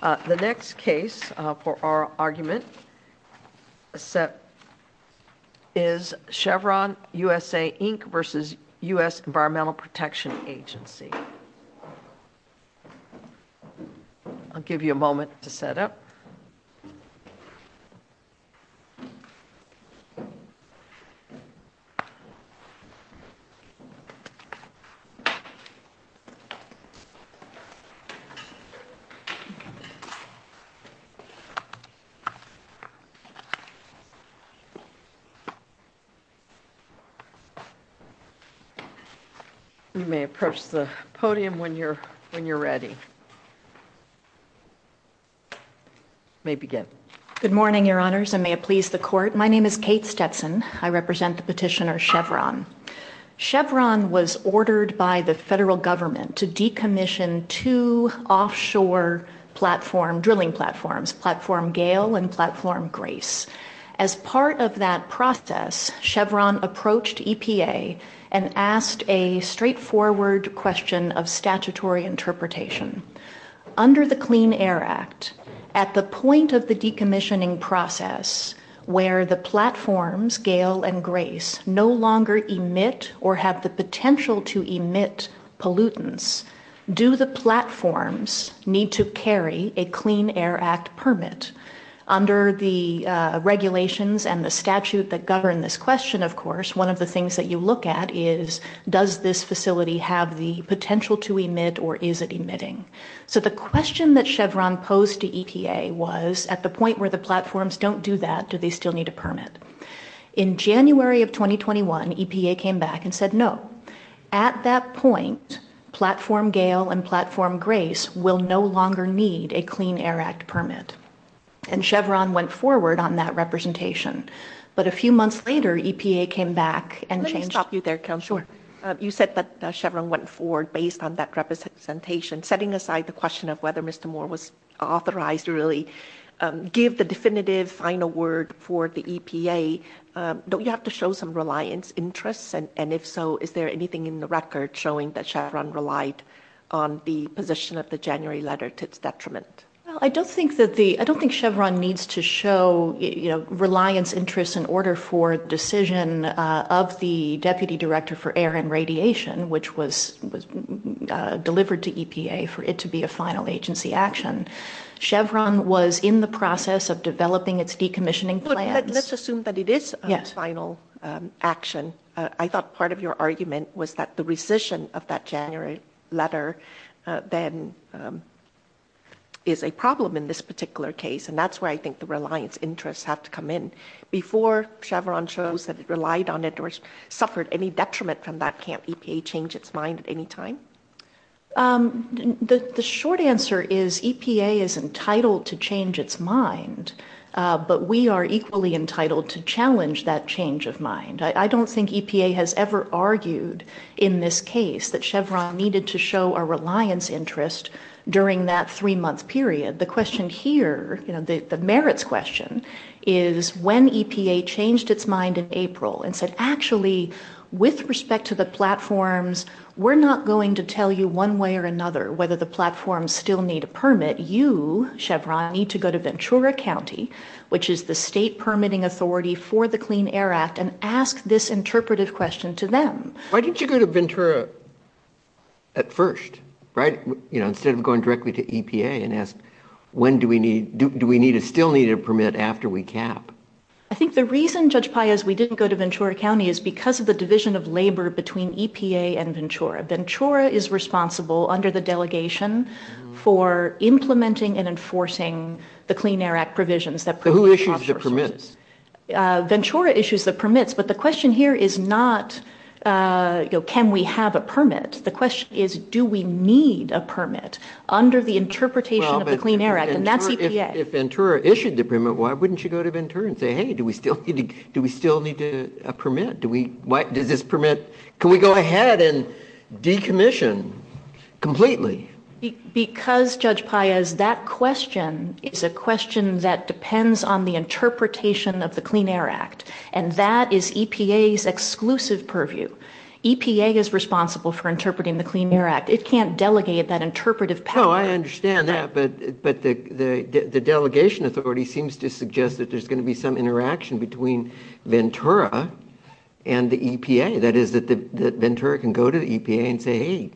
The next case for our argument is Chevron U.S.A. Inc. v. U.S. Environmental Protection Agency. I'll give you a moment to set up. You may approach the podium when you're ready. You may begin. Good morning, Your Honors, and may it please the Court. My name is Kate Stetson. I represent the petitioner Chevron. Chevron was ordered by the federal government to decommission two offshore drilling platforms, Platform Gale and Platform Grace. As part of that process, Chevron approached EPA and asked a straightforward question of statutory interpretation. Under the Clean Air Act, at the point of the decommissioning process where the platforms, Gale and Grace, no longer emit or have the potential to emit pollutants, do the platforms need to carry a Clean Air Act permit? Under the regulations and the statute that govern this question, of course, one of the things that you look at is, does this facility have the potential to emit or is it emitting? So the question that Chevron posed to EPA was, at the point where the platforms don't do that, do they still need a permit? In January of 2021, EPA came back and said no. At that point, Platform Gale and Platform Grace will no longer need a Clean Air Act permit. And Chevron went forward on that representation. But a few months later, EPA came back and changed- Let me stop you there, Counselor. Sure. You said that Chevron went forward based on that representation, setting aside the question of whether Mr. Moore was authorized to really give the definitive final word for the EPA, don't you have to show some reliance interests? And if so, is there anything in the record showing that Chevron relied on the position of the January letter to its detriment? Well, I don't think Chevron needs to show reliance interests in order for the decision of the Deputy Director for Air and Radiation, which was delivered to EPA, for it to be a final agency action. Chevron was in the process of developing its decommissioning plans. Let's assume that it is a final action. I thought part of your argument was that the rescission of that January letter then is a problem in this particular case. And that's where I think the reliance interests have to come in. Before Chevron shows that it relied on it or suffered any detriment from that, can't EPA change its mind at any time? The short answer is EPA is entitled to change its mind, but we are equally entitled to challenge that change of mind. I don't think EPA has ever argued in this case that Chevron needed to show a reliance interest during that three-month period. The question here, the merits question, is when EPA changed its mind in April and said, actually, with respect to the platforms, we're not going to tell you one way or another whether the platforms still need a permit. You, Chevron, need to go to Ventura County, which is the state permitting authority for the Clean Air Act, and ask this interpretive question to them. Why didn't you go to Ventura at first, right? Instead of going directly to EPA and ask, do we still need a permit after we cap? I think the reason, Judge Paez, we didn't go to Ventura County is because of the division of labor between EPA and Ventura. Ventura is responsible under the delegation for implementing and enforcing the Clean Air Act provisions. Who issues the permits? Ventura issues the permits, but the question here is not, can we have a permit? The question is, do we need a permit under the interpretation of the Clean Air Act, and that's EPA. If Ventura issued the permit, why wouldn't you go to Ventura and say, hey, do we still need a permit? Does this permit, can we go ahead and decommission completely? Because, Judge Paez, that question is a question that depends on the interpretation of the Clean Air Act, and that is EPA's exclusive purview. EPA is responsible for interpreting the Clean Air Act. It can't delegate that interpretive power. Oh, I understand that, but the delegation authority seems to suggest that there's going to be some interaction between Ventura and the EPA. That is, that Ventura can go to the EPA and say, hey,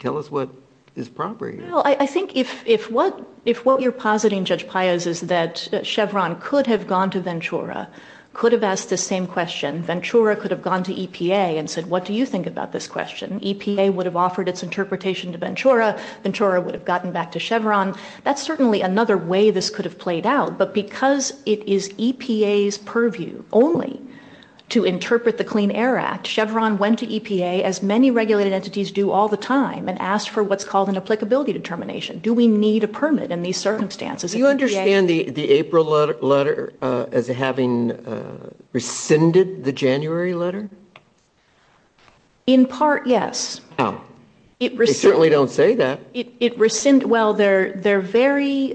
tell us what is proper here. I think if what you're positing, Judge Paez, is that Chevron could have gone to Ventura, could have asked the same question. Ventura could have gone to EPA and said, what do you think about this question? EPA would have offered its interpretation to Ventura. Ventura would have gotten back to Chevron. That's certainly another way this could have played out, but because it is EPA's purview only to interpret the Clean Air Act, Chevron went to EPA, as many regulated entities do all the time, and asked for what's called an applicability determination. Do we need a permit in these circumstances? Do you understand the April letter as having rescinded the January letter? In part, yes. They certainly don't say that. They're very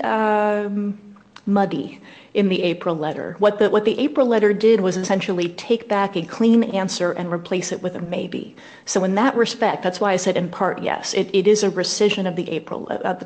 muddy in the April letter. What the April letter did was essentially take back a clean answer and replace it with a maybe. In that respect, that's why I said in part, yes. It is a rescission of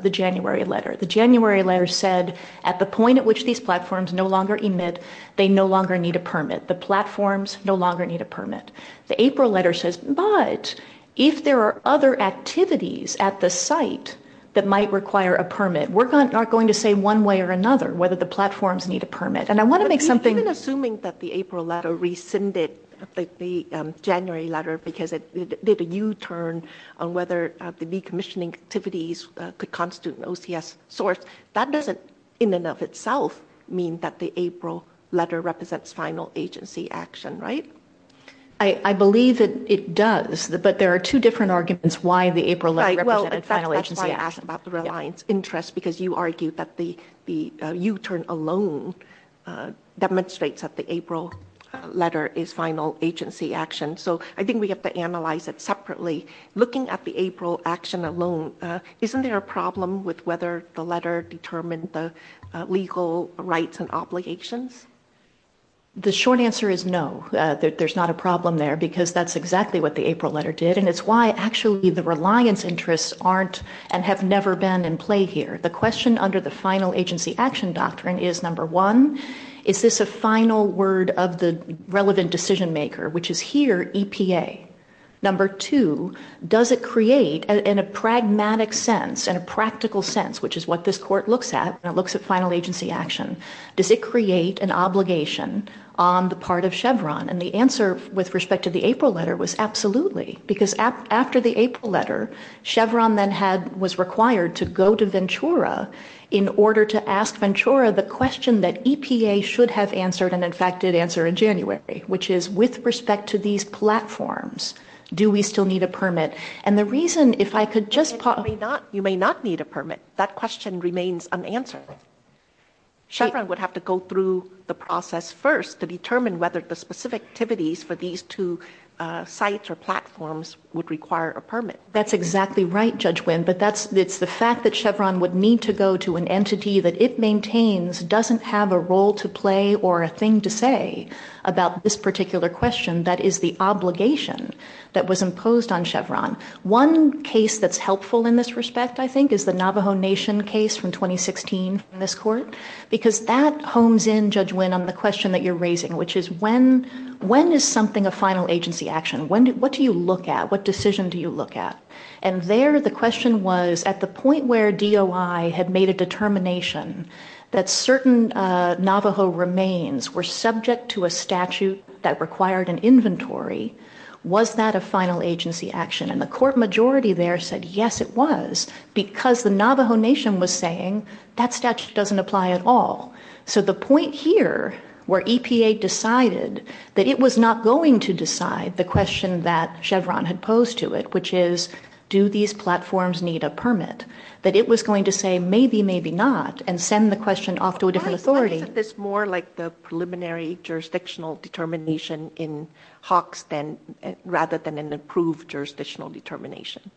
the January letter. The January letter said, at the point at which these platforms no longer emit, they no longer need a permit. The platforms no longer need a permit. The April letter says, but if there are other activities at the site that might require a permit, we're not going to say one way or another whether the platforms need a permit. Even assuming that the April letter rescinded the January letter because it did a U-turn on whether the decommissioning activities could constitute an OCS source, that doesn't in and of itself mean that the April letter represents final agency action, right? I believe that it does, but there are two different arguments why the April letter represented final agency action. Right, well, in fact, that's why I asked about the reliance interest, because you argued that the U-turn alone demonstrates that the April letter is final agency action. So I think we have to analyze it separately. Looking at the April action alone, isn't there a problem with whether the letter determined the legal rights and obligations? The short answer is no. There's not a problem there, because that's exactly what the April letter did, and it's why, actually, the reliance interests aren't and have never been in play here. The question under the final agency action doctrine is, number one, is this a final word of the relevant decision maker, which is here EPA? Number two, does it create, in a pragmatic sense, in a practical sense, which is what this court looks at when it looks at final agency action, does it create an obligation on the part of Chevron? And the answer with respect to the April letter was absolutely, because after the April letter, Chevron then was required to go to Ventura in order to ask Ventura the question that EPA should have answered and, in fact, did answer in January, which is, with respect to these platforms, do we still need a permit? You may not need a permit. That question remains unanswered. Chevron would have to go through the process first to determine whether the specific activities for these two sites or platforms would require a permit. That's exactly right, Judge Winn, but it's the fact that Chevron would need to go to an entity that it maintains doesn't have a role to play or a thing to say about this particular question that is the obligation that was imposed on Chevron. One case that's helpful in this respect, I think, is the Navajo Nation case from 2016 in this court, because that homes in, Judge Winn, on the question that you're raising, which is when is something a final agency action? What do you look at? What decision do you look at? And there the question was, at the point where DOI had made a determination that certain Navajo remains were subject to a statute that required an inventory, was that a final agency action? And the court majority there said, yes, it was, because the Navajo Nation was saying that statute doesn't apply at all. So the point here, where EPA decided that it was not going to decide the question that Chevron had posed to it, which is, do these platforms need a permit, that it was going to say, maybe, maybe not, and send the question off to a different authority. Why is this more like the preliminary jurisdictional determination in Hawks rather than an approved jurisdictional determination?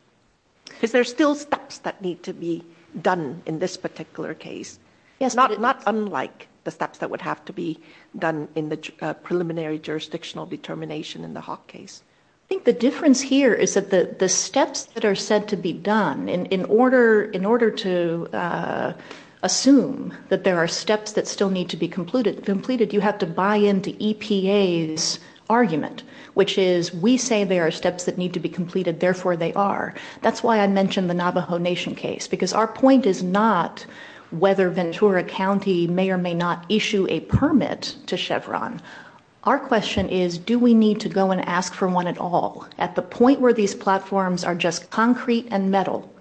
Because there are still steps that need to be done in this particular case, not unlike the steps that would have to be done in the preliminary jurisdictional determination in the Hawks case. I think the difference here is that the steps that are said to be done in order to assume that there are steps that still need to be completed, you have to buy into EPA's argument, which is, we say there are steps that need to be completed, therefore they are. That's why I mentioned the Navajo Nation case, because our point is not whether Ventura County may or may not issue a permit to Chevron. Our question is, do we need to go and ask for one at all, at the point where these platforms are just concrete and metal,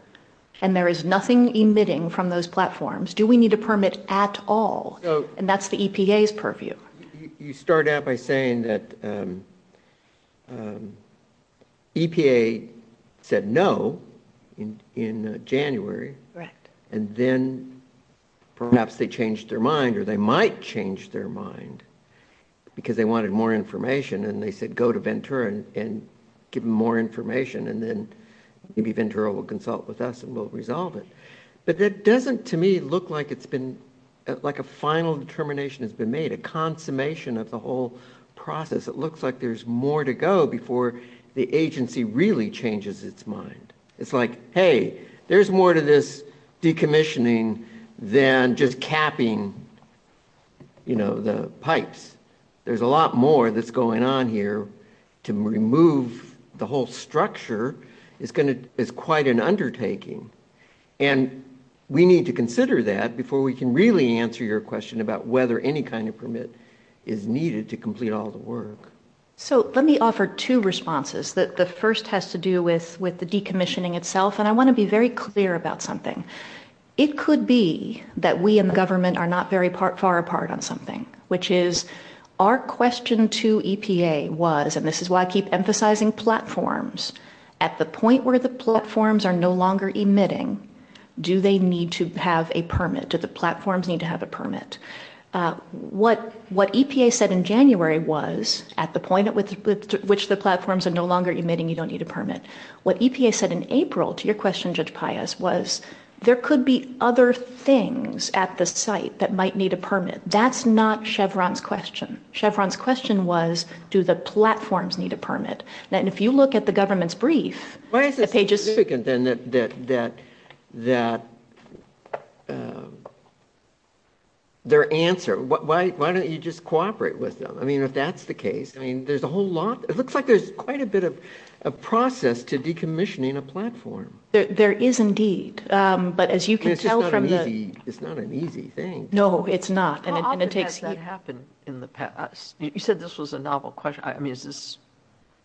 and there is nothing emitting from those platforms? Do we need a permit at all? And that's the EPA's purview. You start out by saying that EPA said no in January, and then perhaps they changed their mind, or they might change their mind, because they wanted more information, and they said go to Ventura and give them more information, and then maybe Ventura will consult with us and we'll resolve it. But that doesn't, to me, look like a final determination has been made, a consummation of the whole process. It looks like there's more to go before the agency really changes its mind. It's like, hey, there's more to this decommissioning than just capping the pipes. There's a lot more that's going on here. To remove the whole structure is quite an undertaking, and we need to consider that before we can really answer your question about whether any kind of permit is needed to complete all the work. So let me offer two responses. The first has to do with the decommissioning itself, and I want to be very clear about something. It could be that we in the government are not very far apart on something, which is our question to EPA was, and this is why I keep emphasizing platforms, at the point where the platforms are no longer emitting, do they need to have a permit? Do the platforms need to have a permit? What EPA said in January was, at the point at which the platforms are no longer emitting, you don't need a permit. What EPA said in April to your question, Judge Paius, was there could be other things at the site that might need a permit. That's not Chevron's question. Chevron's question was, do the platforms need a permit? And if you look at the government's brief, the pages— Why is it significant then that their answer, why don't you just cooperate with them? I mean, if that's the case, I mean, there's a whole lot. It looks like there's quite a bit of a process to decommissioning a platform. There is indeed. But as you can tell from the— It's not an easy thing. No, it's not. How often has that happened in the past? You said this was a novel question. I mean,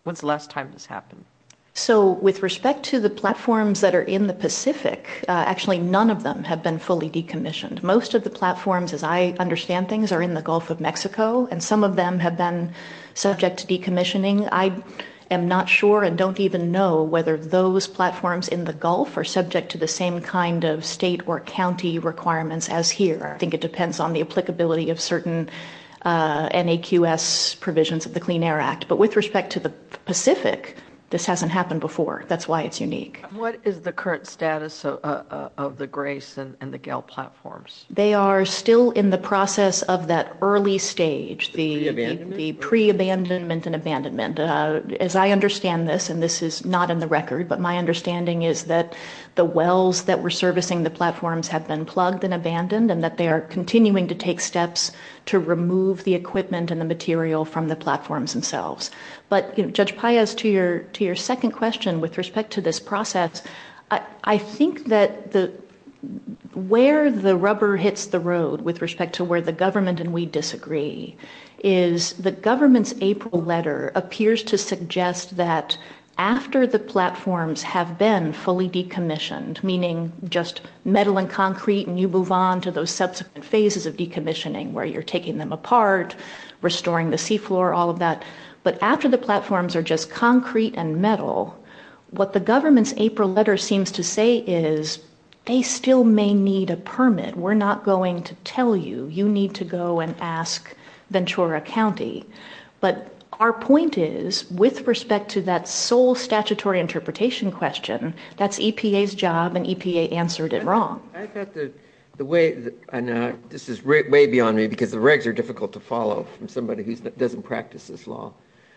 when's the last time this happened? So with respect to the platforms that are in the Pacific, actually none of them have been fully decommissioned. Most of the platforms, as I understand things, are in the Gulf of Mexico, and some of them have been subject to decommissioning. I am not sure and don't even know whether those platforms in the Gulf are subject to the same kind of state or county requirements as here. I think it depends on the applicability of certain NAQS provisions of the Clean Air Act. But with respect to the Pacific, this hasn't happened before. That's why it's unique. What is the current status of the GRACE and the GAL platforms? They are still in the process of that early stage, the pre-abandonment and abandonment. As I understand this, and this is not in the record, but my understanding is that the wells that were servicing the platforms have been plugged and abandoned and that they are continuing to take steps to remove the equipment and the material from the platforms themselves. But, Judge Paez, to your second question with respect to this process, I think that where the rubber hits the road with respect to where the government and we disagree is the government's April letter appears to suggest that after the platforms have been fully decommissioned, meaning just metal and concrete and you move on to those subsequent phases of decommissioning where you're taking them apart, restoring the seafloor, all of that, but after the platforms are just concrete and metal, what the government's April letter seems to say is they still may need a permit. We're not going to tell you. You need to go and ask Ventura County. But our point is, with respect to that sole statutory interpretation question, that's EPA's job and EPA answered it wrong. I thought the way, and this is way beyond me because the regs are difficult to follow from somebody who doesn't practice this law,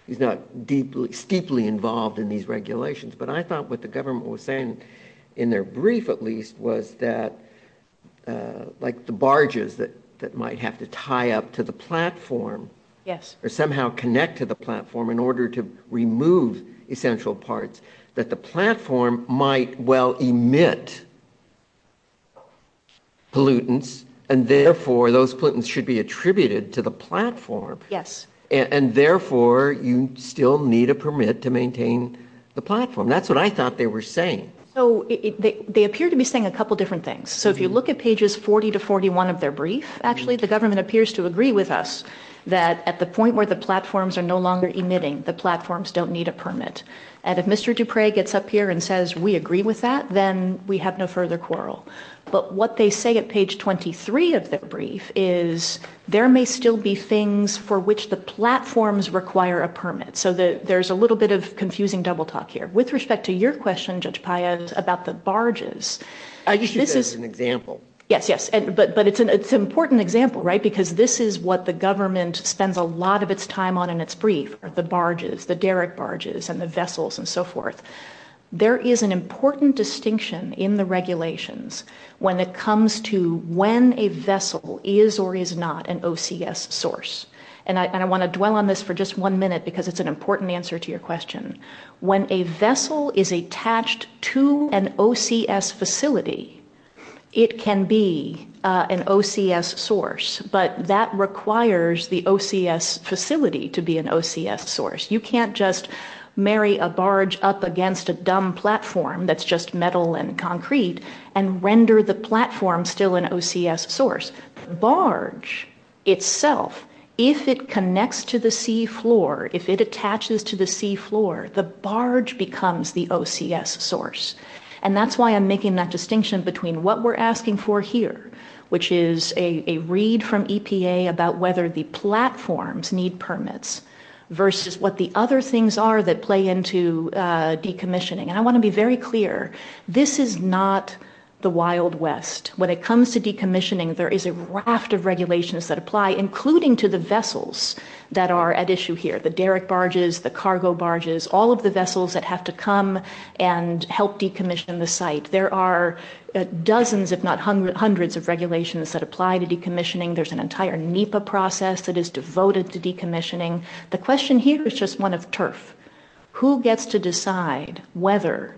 who's not deeply, steeply involved in these regulations, but I thought what the government was saying in their brief at least was that like the barges that might have to tie up to the platform or somehow connect to the platform in order to remove essential parts, that the platform might well emit pollutants and therefore those pollutants should be attributed to the platform. Yes. And therefore you still need a permit to maintain the platform. That's what I thought they were saying. They appear to be saying a couple different things. So if you look at pages 40 to 41 of their brief, actually the government appears to agree with us that at the point where the platforms are no longer emitting, the platforms don't need a permit. And if Mr. Dupre gets up here and says we agree with that, then we have no further quarrel. But what they say at page 23 of their brief is there may still be things for which the platforms require a permit. So there's a little bit of confusing double talk here. With respect to your question, Judge Paez, about the barges. I just use that as an example. Yes, yes. But it's an important example, right, because this is what the government spends a lot of its time on in its brief, the barges, the derrick barges and the vessels and so forth. There is an important distinction in the regulations when it comes to when a vessel is or is not an OCS source. And I want to dwell on this for just one minute because it's an important answer to your question. When a vessel is attached to an OCS facility, it can be an OCS source, but that requires the OCS facility to be an OCS source. You can't just marry a barge up against a dumb platform that's just metal and concrete and render the platform still an OCS source. The barge itself, if it connects to the seafloor, if it attaches to the seafloor, the barge becomes the OCS source. And that's why I'm making that distinction between what we're asking for here, which is a read from EPA about whether the platforms need permits versus what the other things are that play into decommissioning. And I want to be very clear, this is not the Wild West. When it comes to decommissioning, there is a raft of regulations that apply, including to the vessels that are at issue here, the derrick barges, the cargo barges, all of the vessels that have to come and help decommission the site. There are dozens, if not hundreds, of regulations that apply to decommissioning. There's an entire NEPA process that is devoted to decommissioning. The question here is just one of turf. Who gets to decide whether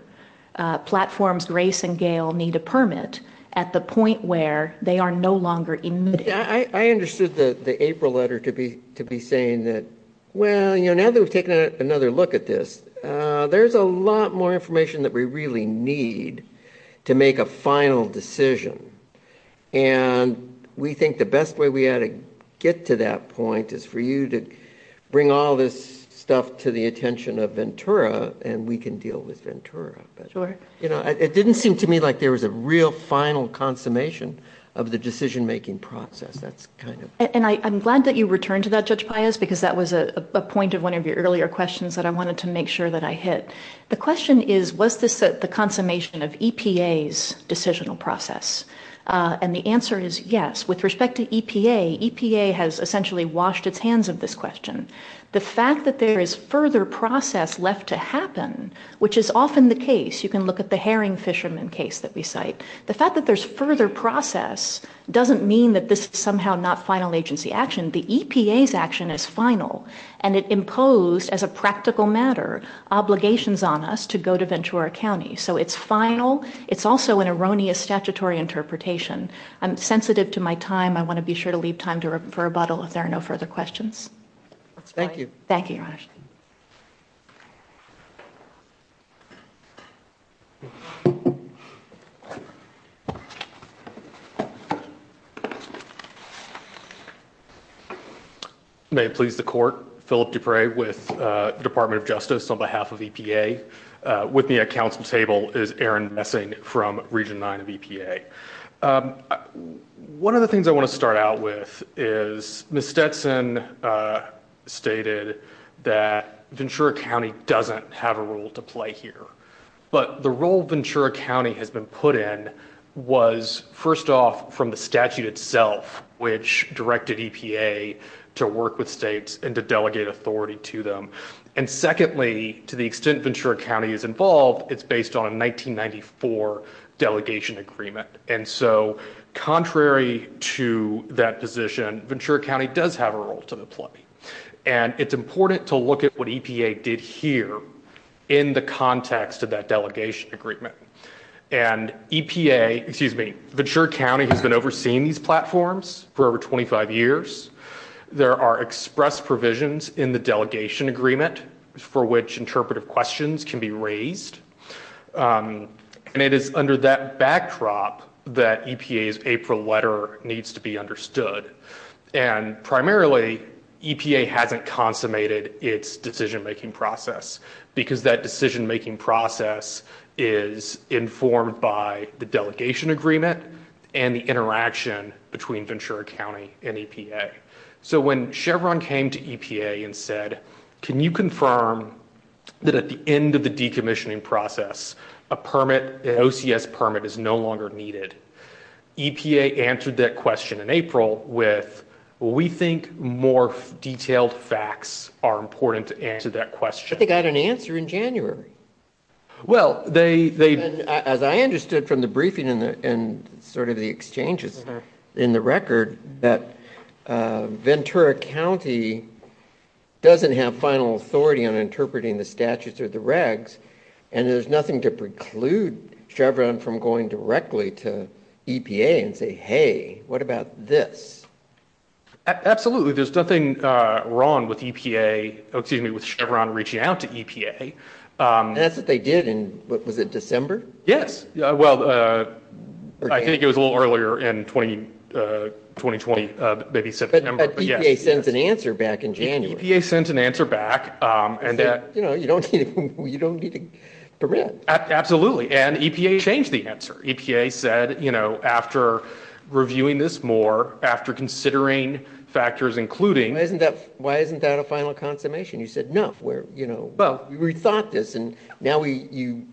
platforms Grace and Gale need a permit at the point where they are no longer in need? I understood the April letter to be saying that, well, now that we've taken another look at this, there's a lot more information that we really need to make a final decision. And we think the best way we ought to get to that point is for you to bring all this stuff to the attention of Ventura, and we can deal with Ventura. It didn't seem to me like there was a real final consummation of the decision-making process. And I'm glad that you returned to that, Judge Pius, because that was a point of one of your earlier questions that I wanted to make sure that I hit. The question is, was this the consummation of EPA's decisional process? And the answer is yes. With respect to EPA, EPA has essentially washed its hands of this question. The fact that there is further process left to happen, which is often the case, you can look at the herring fisherman case that we cite, the fact that there's further process doesn't mean that this is somehow not final agency action. The EPA's action is final, and it imposed, as a practical matter, obligations on us to go to Ventura County. So it's final. It's also an erroneous statutory interpretation. I'm sensitive to my time. I want to be sure to leave time to refer a bottle if there are no further questions. Thank you. Thank you, Your Honor. May it please the Court, Philip Dupre with the Department of Justice on behalf of EPA. With me at Council table is Aaron Messing from Region 9 of EPA. One of the things I want to start out with is Ms. Stetson stated that Ventura County doesn't have a role to play here. But the role Ventura County has been put in was first off from the statute itself, which directed EPA to work with states and to delegate authority to them. And secondly, to the extent Ventura County is involved, it's based on a 1994 delegation agreement. And so contrary to that position, Ventura County does have a role to play. And it's important to look at what EPA did here in the context of that delegation agreement. And EPA, excuse me, Ventura County has been overseeing these platforms for over 25 years. There are express provisions in the delegation agreement for which interpretive questions can be raised. And it is under that backdrop that EPA's April letter needs to be understood. And primarily, EPA hasn't consummated its decision-making process because that decision-making process is informed by the delegation agreement and the interaction between Ventura County and EPA. So when Chevron came to EPA and said, can you confirm that at the end of the decommissioning process, a permit, an OCS permit, is no longer needed, EPA answered that question in April with, we think more detailed facts are important to answer that question. But they got an answer in January. Well, they... As I understood from the briefing and sort of the exchanges in the record, that Ventura County doesn't have final authority on interpreting the statutes or the regs, and there's nothing to preclude Chevron from going directly to EPA and say, hey, what about this? Absolutely, there's nothing wrong with EPA, excuse me, with Chevron reaching out to EPA. And that's what they did in, what was it, December? Yes, well, I think it was a little earlier in 2020, maybe September. But EPA sent an answer back in January. EPA sent an answer back. You know, you don't need a permit. Absolutely, and EPA changed the answer. EPA said, you know, after reviewing this more, after considering factors including... Why isn't that a final consummation? You said, no, we thought this, and now you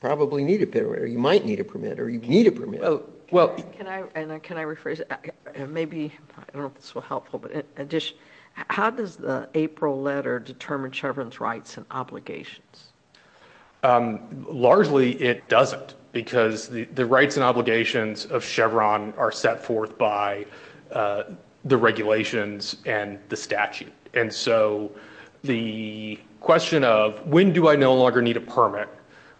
probably need a permit, or you might need a permit, or you need a permit. Can I rephrase it? Maybe, I don't know if this will help, but how does the April letter determine Chevron's rights and obligations? Largely, it doesn't, because the rights and obligations of Chevron are set forth by the regulations and the statute. And so the question of, when do I no longer need a permit?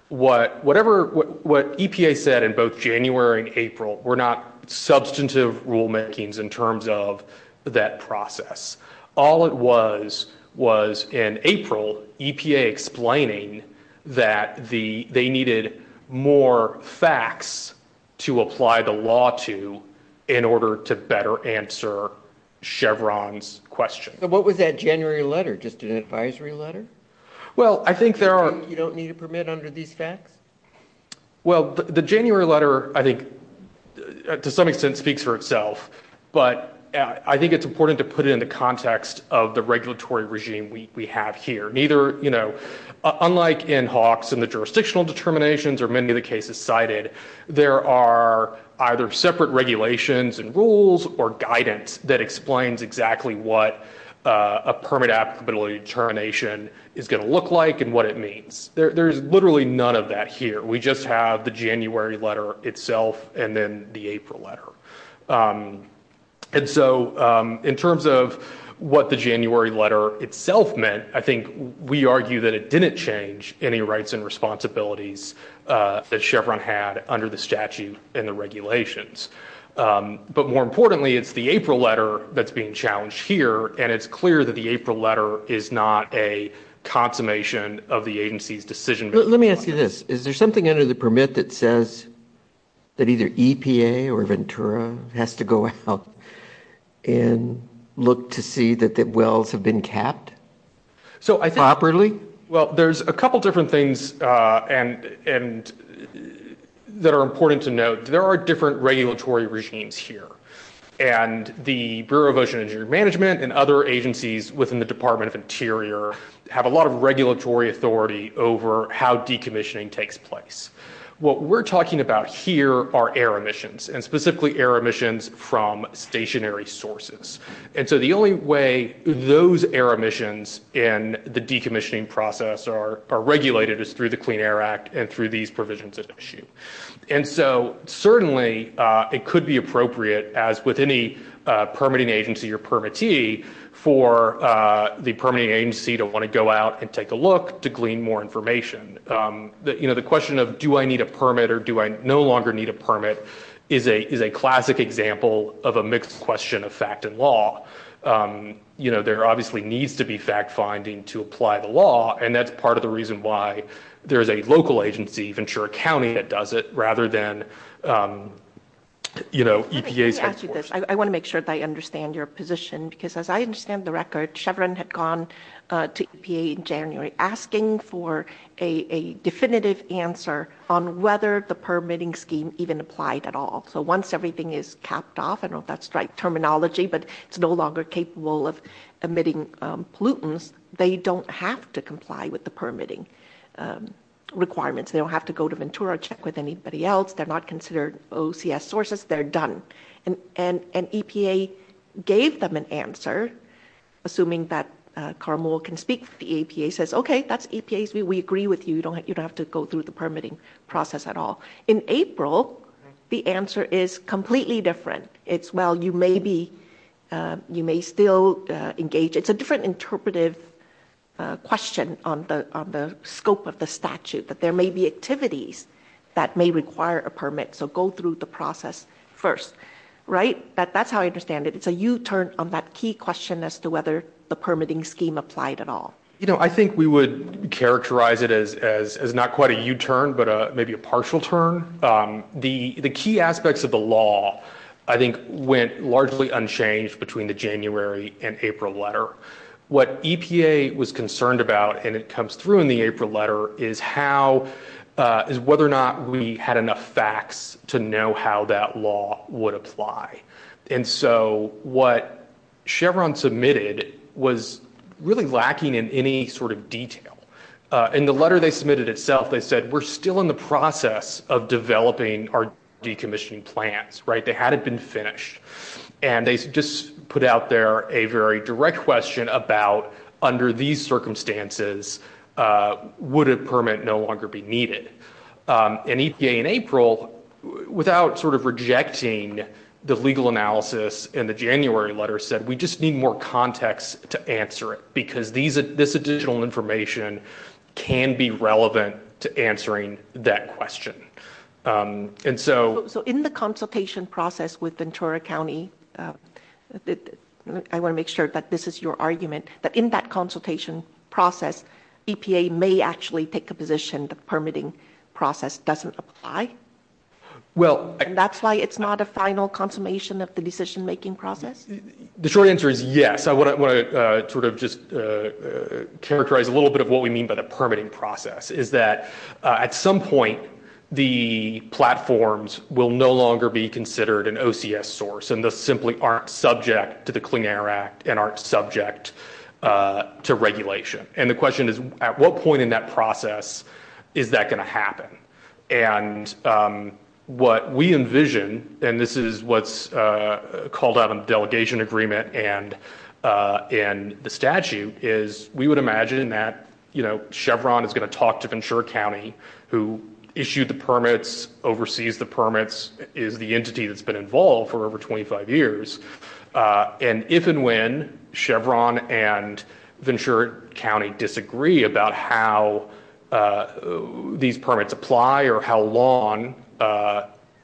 What EPA said in both January and April were not substantive rulemakings in terms of that process. All it was was, in April, EPA explaining that they needed more facts to apply the law to in order to better answer Chevron's question. So what was that January letter? Just an advisory letter? Well, I think there are... You don't need a permit under these facts? Well, the January letter, I think, to some extent speaks for itself, but I think it's important to put it into context of the regulatory regime we have here. Unlike in Hawks and the jurisdictional determinations, or many of the cases cited, there are either separate regulations and rules or guidance that explains exactly what a permit applicability determination is going to look like and what it means. There's literally none of that here. We just have the January letter itself and then the April letter. And so in terms of what the January letter itself meant, I think we argue that it didn't change any rights and responsibilities that Chevron had under the statute and the regulations. But more importantly, it's the April letter that's being challenged here, and it's clear that the April letter is not a consummation of the agency's decision making. Let me ask you this. Is there something under the permit that says that either EPA or Ventura has to go out and look to see that the wells have been capped properly? Well, there's a couple different things that are important to note. There are different regulatory regimes here, and the Bureau of Ocean and Engineering Management and other agencies within the Department of Interior have a lot of regulatory authority over how decommissioning takes place. What we're talking about here are air emissions and specifically air emissions from stationary sources. And so the only way those air emissions in the decommissioning process are regulated is through the Clean Air Act and through these provisions at issue. And so certainly it could be appropriate, as with any permitting agency or permittee, for the permitting agency to want to go out and take a look to glean more information. The question of do I need a permit or do I no longer need a permit is a classic example of a mixed question of fact and law. There obviously needs to be fact finding to apply the law, and that's part of the reason why there is a local agency, Ventura County, that does it rather than EPA's headquarters. Let me ask you this. I want to make sure that I understand your position, because as I understand the record, Chevron had gone to EPA in January asking for a definitive answer on whether the permitting scheme even applied at all. So once everything is capped off, I don't know if that's the right terminology, but it's no longer capable of emitting pollutants, they don't have to comply with the permitting requirements. They don't have to go to Ventura, check with anybody else. They're not considered OCS sources. They're done. And EPA gave them an answer, assuming that Carmel can speak to the EPA, says, okay, that's EPA's view. We agree with you. You don't have to go through the permitting process at all. In April, the answer is completely different. It's, well, you may still engage. It's a different interpretive question on the scope of the statute, that there may be activities that may require a permit, so go through the process first, right? That's how I understand it. It's a U-turn on that key question as to whether the permitting scheme applied at all. You know, I think we would characterize it as not quite a U-turn, but maybe a partial turn. The key aspects of the law, I think, went largely unchanged between the January and April letter. What EPA was concerned about, and it comes through in the April letter, is whether or not we had enough facts to know how that law would apply. And so what Chevron submitted was really lacking in any sort of detail. In the letter they submitted itself, they said, we're still in the process of developing our decommissioning plans, right? They hadn't been finished. And they just put out there a very direct question about, under these circumstances, would a permit no longer be needed? And EPA in April, without sort of rejecting the legal analysis in the January letter, said, we just need more context to answer it because this additional information can be relevant to answering that question. So in the consultation process with Ventura County, I want to make sure that this is your argument, that in that consultation process, EPA may actually take a position the permitting process doesn't apply? And that's why it's not a final consummation of the decision-making process? The short answer is yes. I want to sort of just characterize a little bit of what we mean by the permitting process, is that at some point, the platforms will no longer be considered an OCS source and thus simply aren't subject to the Clean Air Act and aren't subject to regulation. And the question is, at what point in that process is that going to happen? And what we envision, and this is what's called out in the delegation agreement and in the statute, is we would imagine that Chevron is going to talk to Ventura County, who issued the permits, oversees the permits, is the entity that's been involved for over 25 years, and if and when Chevron and Ventura County disagree about how these permits apply or how long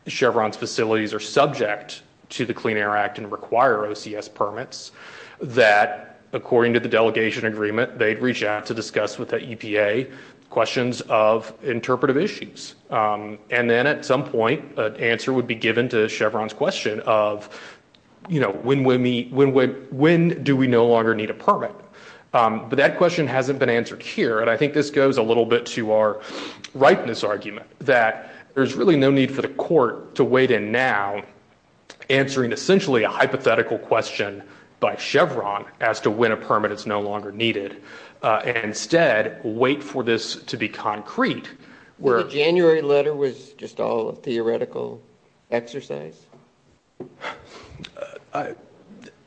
Chevron's facilities are subject to the Clean Air Act and require OCS permits, that according to the delegation agreement, they'd reach out to discuss with the EPA questions of interpretive issues. And then at some point, an answer would be given to Chevron's question of, you know, when do we no longer need a permit? But that question hasn't been answered here, and I think this goes a little bit to our ripeness argument that there's really no need for the court to wait in now answering essentially a hypothetical question by Chevron as to when a permit is no longer needed and instead wait for this to be concrete. The January letter was just all a theoretical exercise?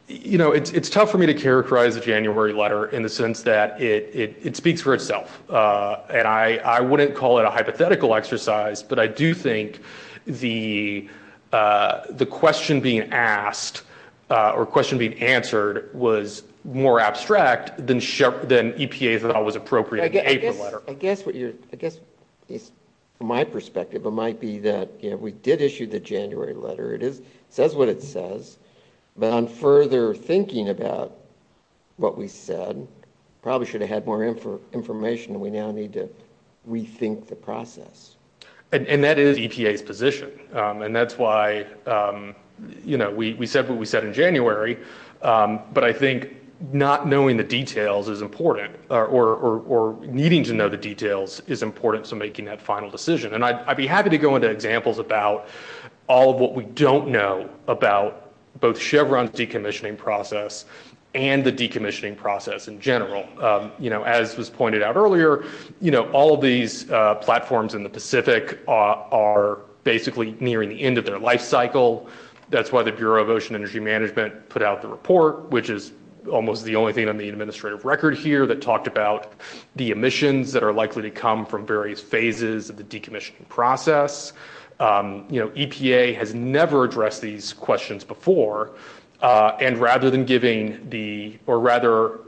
You know, it's tough for me to characterize the January letter in the sense that it speaks for itself, and I wouldn't call it a hypothetical exercise, but I do think the question being asked or question being answered was more abstract than EPA thought was appropriate in the April letter. I guess from my perspective, it might be that we did issue the January letter. It says what it says, but on further thinking about what we said, probably should have had more information, and we now need to rethink the process. And that is EPA's position, and that's why, you know, we said what we said in January, but I think not knowing the details is important or needing to know the details is important to making that final decision. And I'd be happy to go into examples about all of what we don't know about both Chevron's decommissioning process and the decommissioning process in general. You know, as was pointed out earlier, you know, all of these platforms in the Pacific are basically nearing the end of their life cycle. That's why the Bureau of Ocean Energy Management put out the report, which is almost the only thing on the administrative record here that talked about the emissions that are likely to come from various phases of the decommissioning process. You know, EPA has never addressed these questions before, and rather than giving the, or rather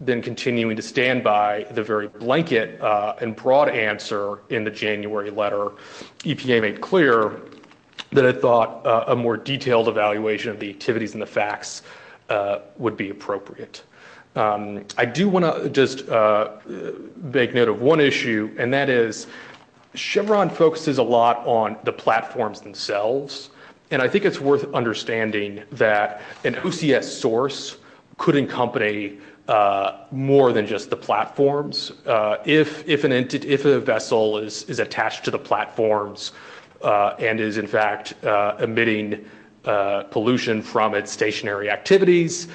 than continuing to stand by the very blanket and broad answer in the January letter, EPA made clear that it thought a more detailed evaluation of the activities and the facts would be appropriate. I do want to just make note of one issue, and that is Chevron focuses a lot on the platforms themselves, and I think it's worth understanding that an OCS source could accompany more than just the platforms. If a vessel is attached to the platforms and is in fact emitting pollution from its stationary activities,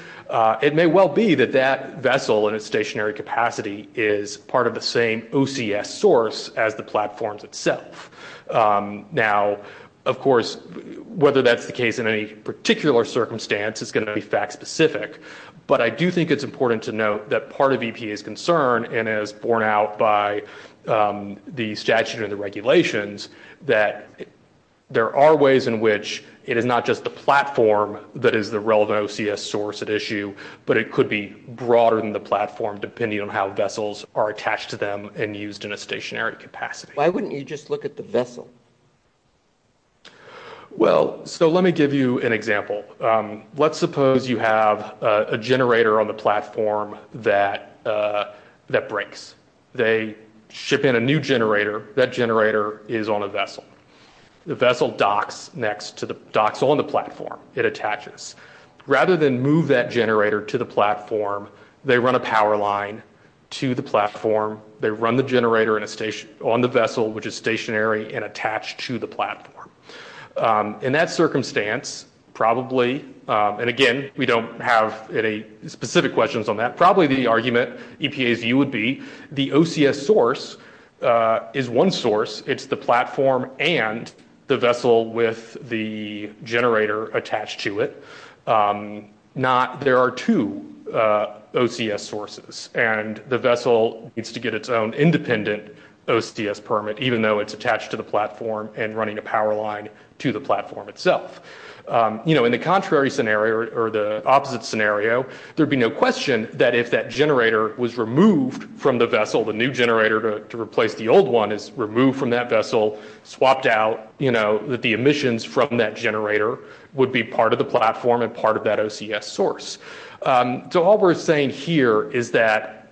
it may well be that that vessel in its stationary capacity is part of the same OCS source as the platforms itself. Now, of course, whether that's the case in any particular circumstance is going to be fact-specific, but I do think it's important to note that part of EPA's concern, and as borne out by the statute and the regulations, that there are ways in which it is not just the platform that is the relevant OCS source at issue, but it could be broader than the platform depending on how vessels are attached to them and used in a stationary capacity. Why wouldn't you just look at the vessel? Well, so let me give you an example. Let's suppose you have a generator on the platform that breaks. They ship in a new generator. That generator is on a vessel. The vessel docks on the platform it attaches. Rather than move that generator to the platform, they run a power line to the platform. They run the generator on the vessel, which is stationary and attached to the platform. In that circumstance, probably, and again, we don't have any specific questions on that, but probably the argument EPA's view would be the OCS source is one source. It's the platform and the vessel with the generator attached to it. There are two OCS sources, and the vessel needs to get its own independent OCS permit, even though it's attached to the platform and running a power line to the platform itself. In the contrary scenario, or the opposite scenario, there'd be no question that if that generator was removed from the vessel, the new generator to replace the old one is removed from that vessel, swapped out, that the emissions from that generator would be part of the platform and part of that OCS source. All we're saying here is that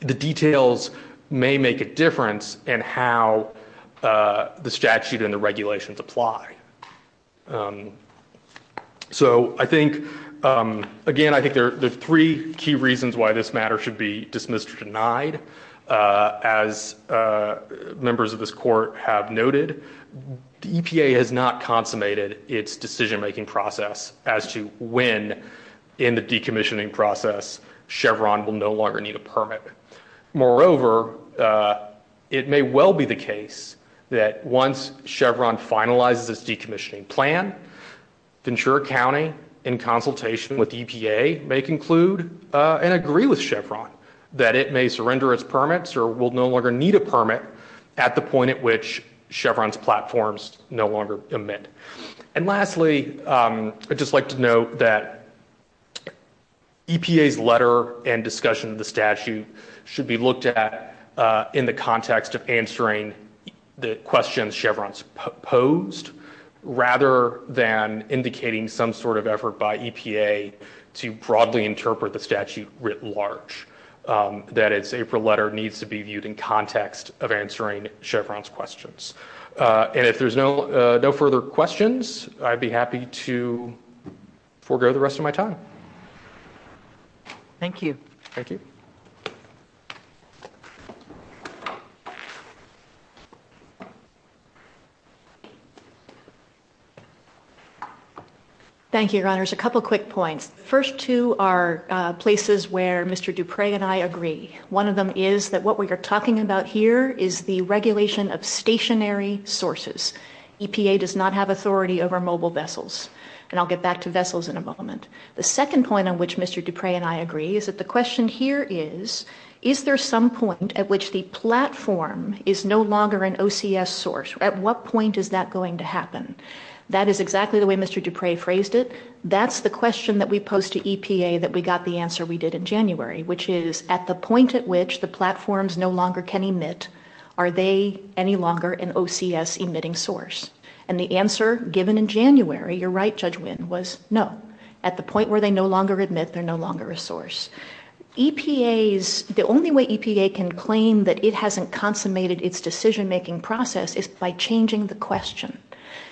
the details may make a difference in how the statute and the regulations apply. So I think, again, I think there are three key reasons why this matter should be dismissed or denied. As members of this court have noted, EPA has not consummated its decision-making process as to when in the decommissioning process Chevron will no longer need a permit. Moreover, it may well be the case that once Chevron finalizes its decommissioning plan, Ventura County, in consultation with EPA, may conclude and agree with Chevron that it may surrender its permits or will no longer need a permit at the point at which Chevron's platforms no longer emit. And lastly, I'd just like to note that EPA's letter and discussion of the statute should be looked at in the context of answering the questions Chevron's posed rather than indicating some sort of effort by EPA to broadly interpret the statute writ large, that its April letter needs to be viewed in context of answering Chevron's questions. And if there's no further questions, I'd be happy to forego the rest of my time. Thank you. Thank you. Thank you, Your Honors. A couple quick points. The first two are places where Mr. Dupre and I agree. One of them is that what we are talking about here is the regulation of stationary sources. EPA does not have authority over mobile vessels. And I'll get back to vessels in a moment. The second point on which Mr. Dupre and I agree is that the question here is, is there some point at which the platform is no longer an OCS source? At what point is that going to happen? That is exactly the way Mr. Dupre phrased it. That's the question that we posed to EPA that we got the answer we did in January, which is, at the point at which the platforms no longer can emit, are they any longer an OCS-emitting source? And the answer, given in January, you're right, Judge Wynn, was no. At the point where they no longer emit, they're no longer a source. The only way EPA can claim that it hasn't consummated its decision-making process is by changing the question.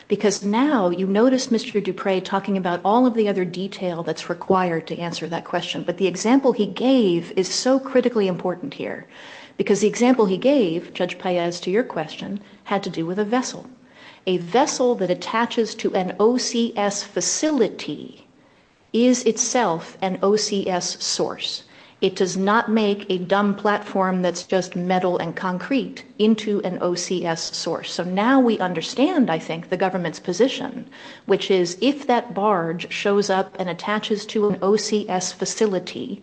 Because now you notice Mr. Dupre talking about all of the other detail that's required to answer that question, but the example he gave is so critically important here. Because the example he gave, Judge Paez, to your question, had to do with a vessel. A vessel that attaches to an OCS facility is itself an OCS source. It does not make a dumb platform that's just metal and concrete into an OCS source. So now we understand, I think, the government's position, which is, if that barge shows up and attaches to an OCS facility,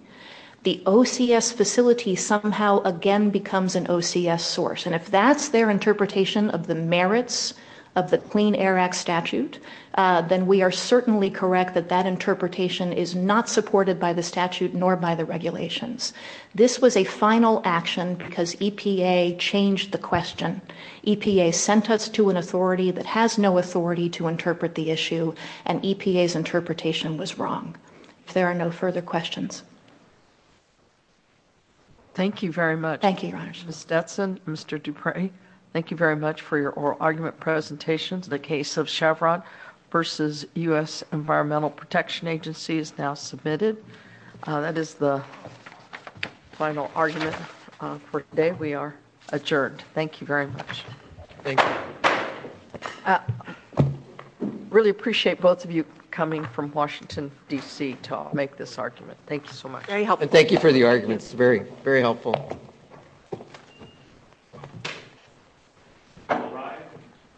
the OCS facility somehow again becomes an OCS source. And if that's their interpretation of the merits of the Clean Air Act statute, then we are certainly correct that that interpretation is not supported by the statute nor by the regulations. This was a final action because EPA changed the question. EPA sent us to an authority that has no authority to interpret the issue, and EPA's interpretation was wrong. If there are no further questions. Thank you very much. Thank you, Your Honor. Ms. Detson, Mr. Dupre, thank you very much for your oral argument presentations. The case of Chevron v. U.S. Environmental Protection Agency is now submitted. That is the final argument for today. We are adjourned. Thank you very much. Really appreciate both of you coming from Washington, D.C., to make this argument. Thank you so much. Thank you for the arguments. Very helpful.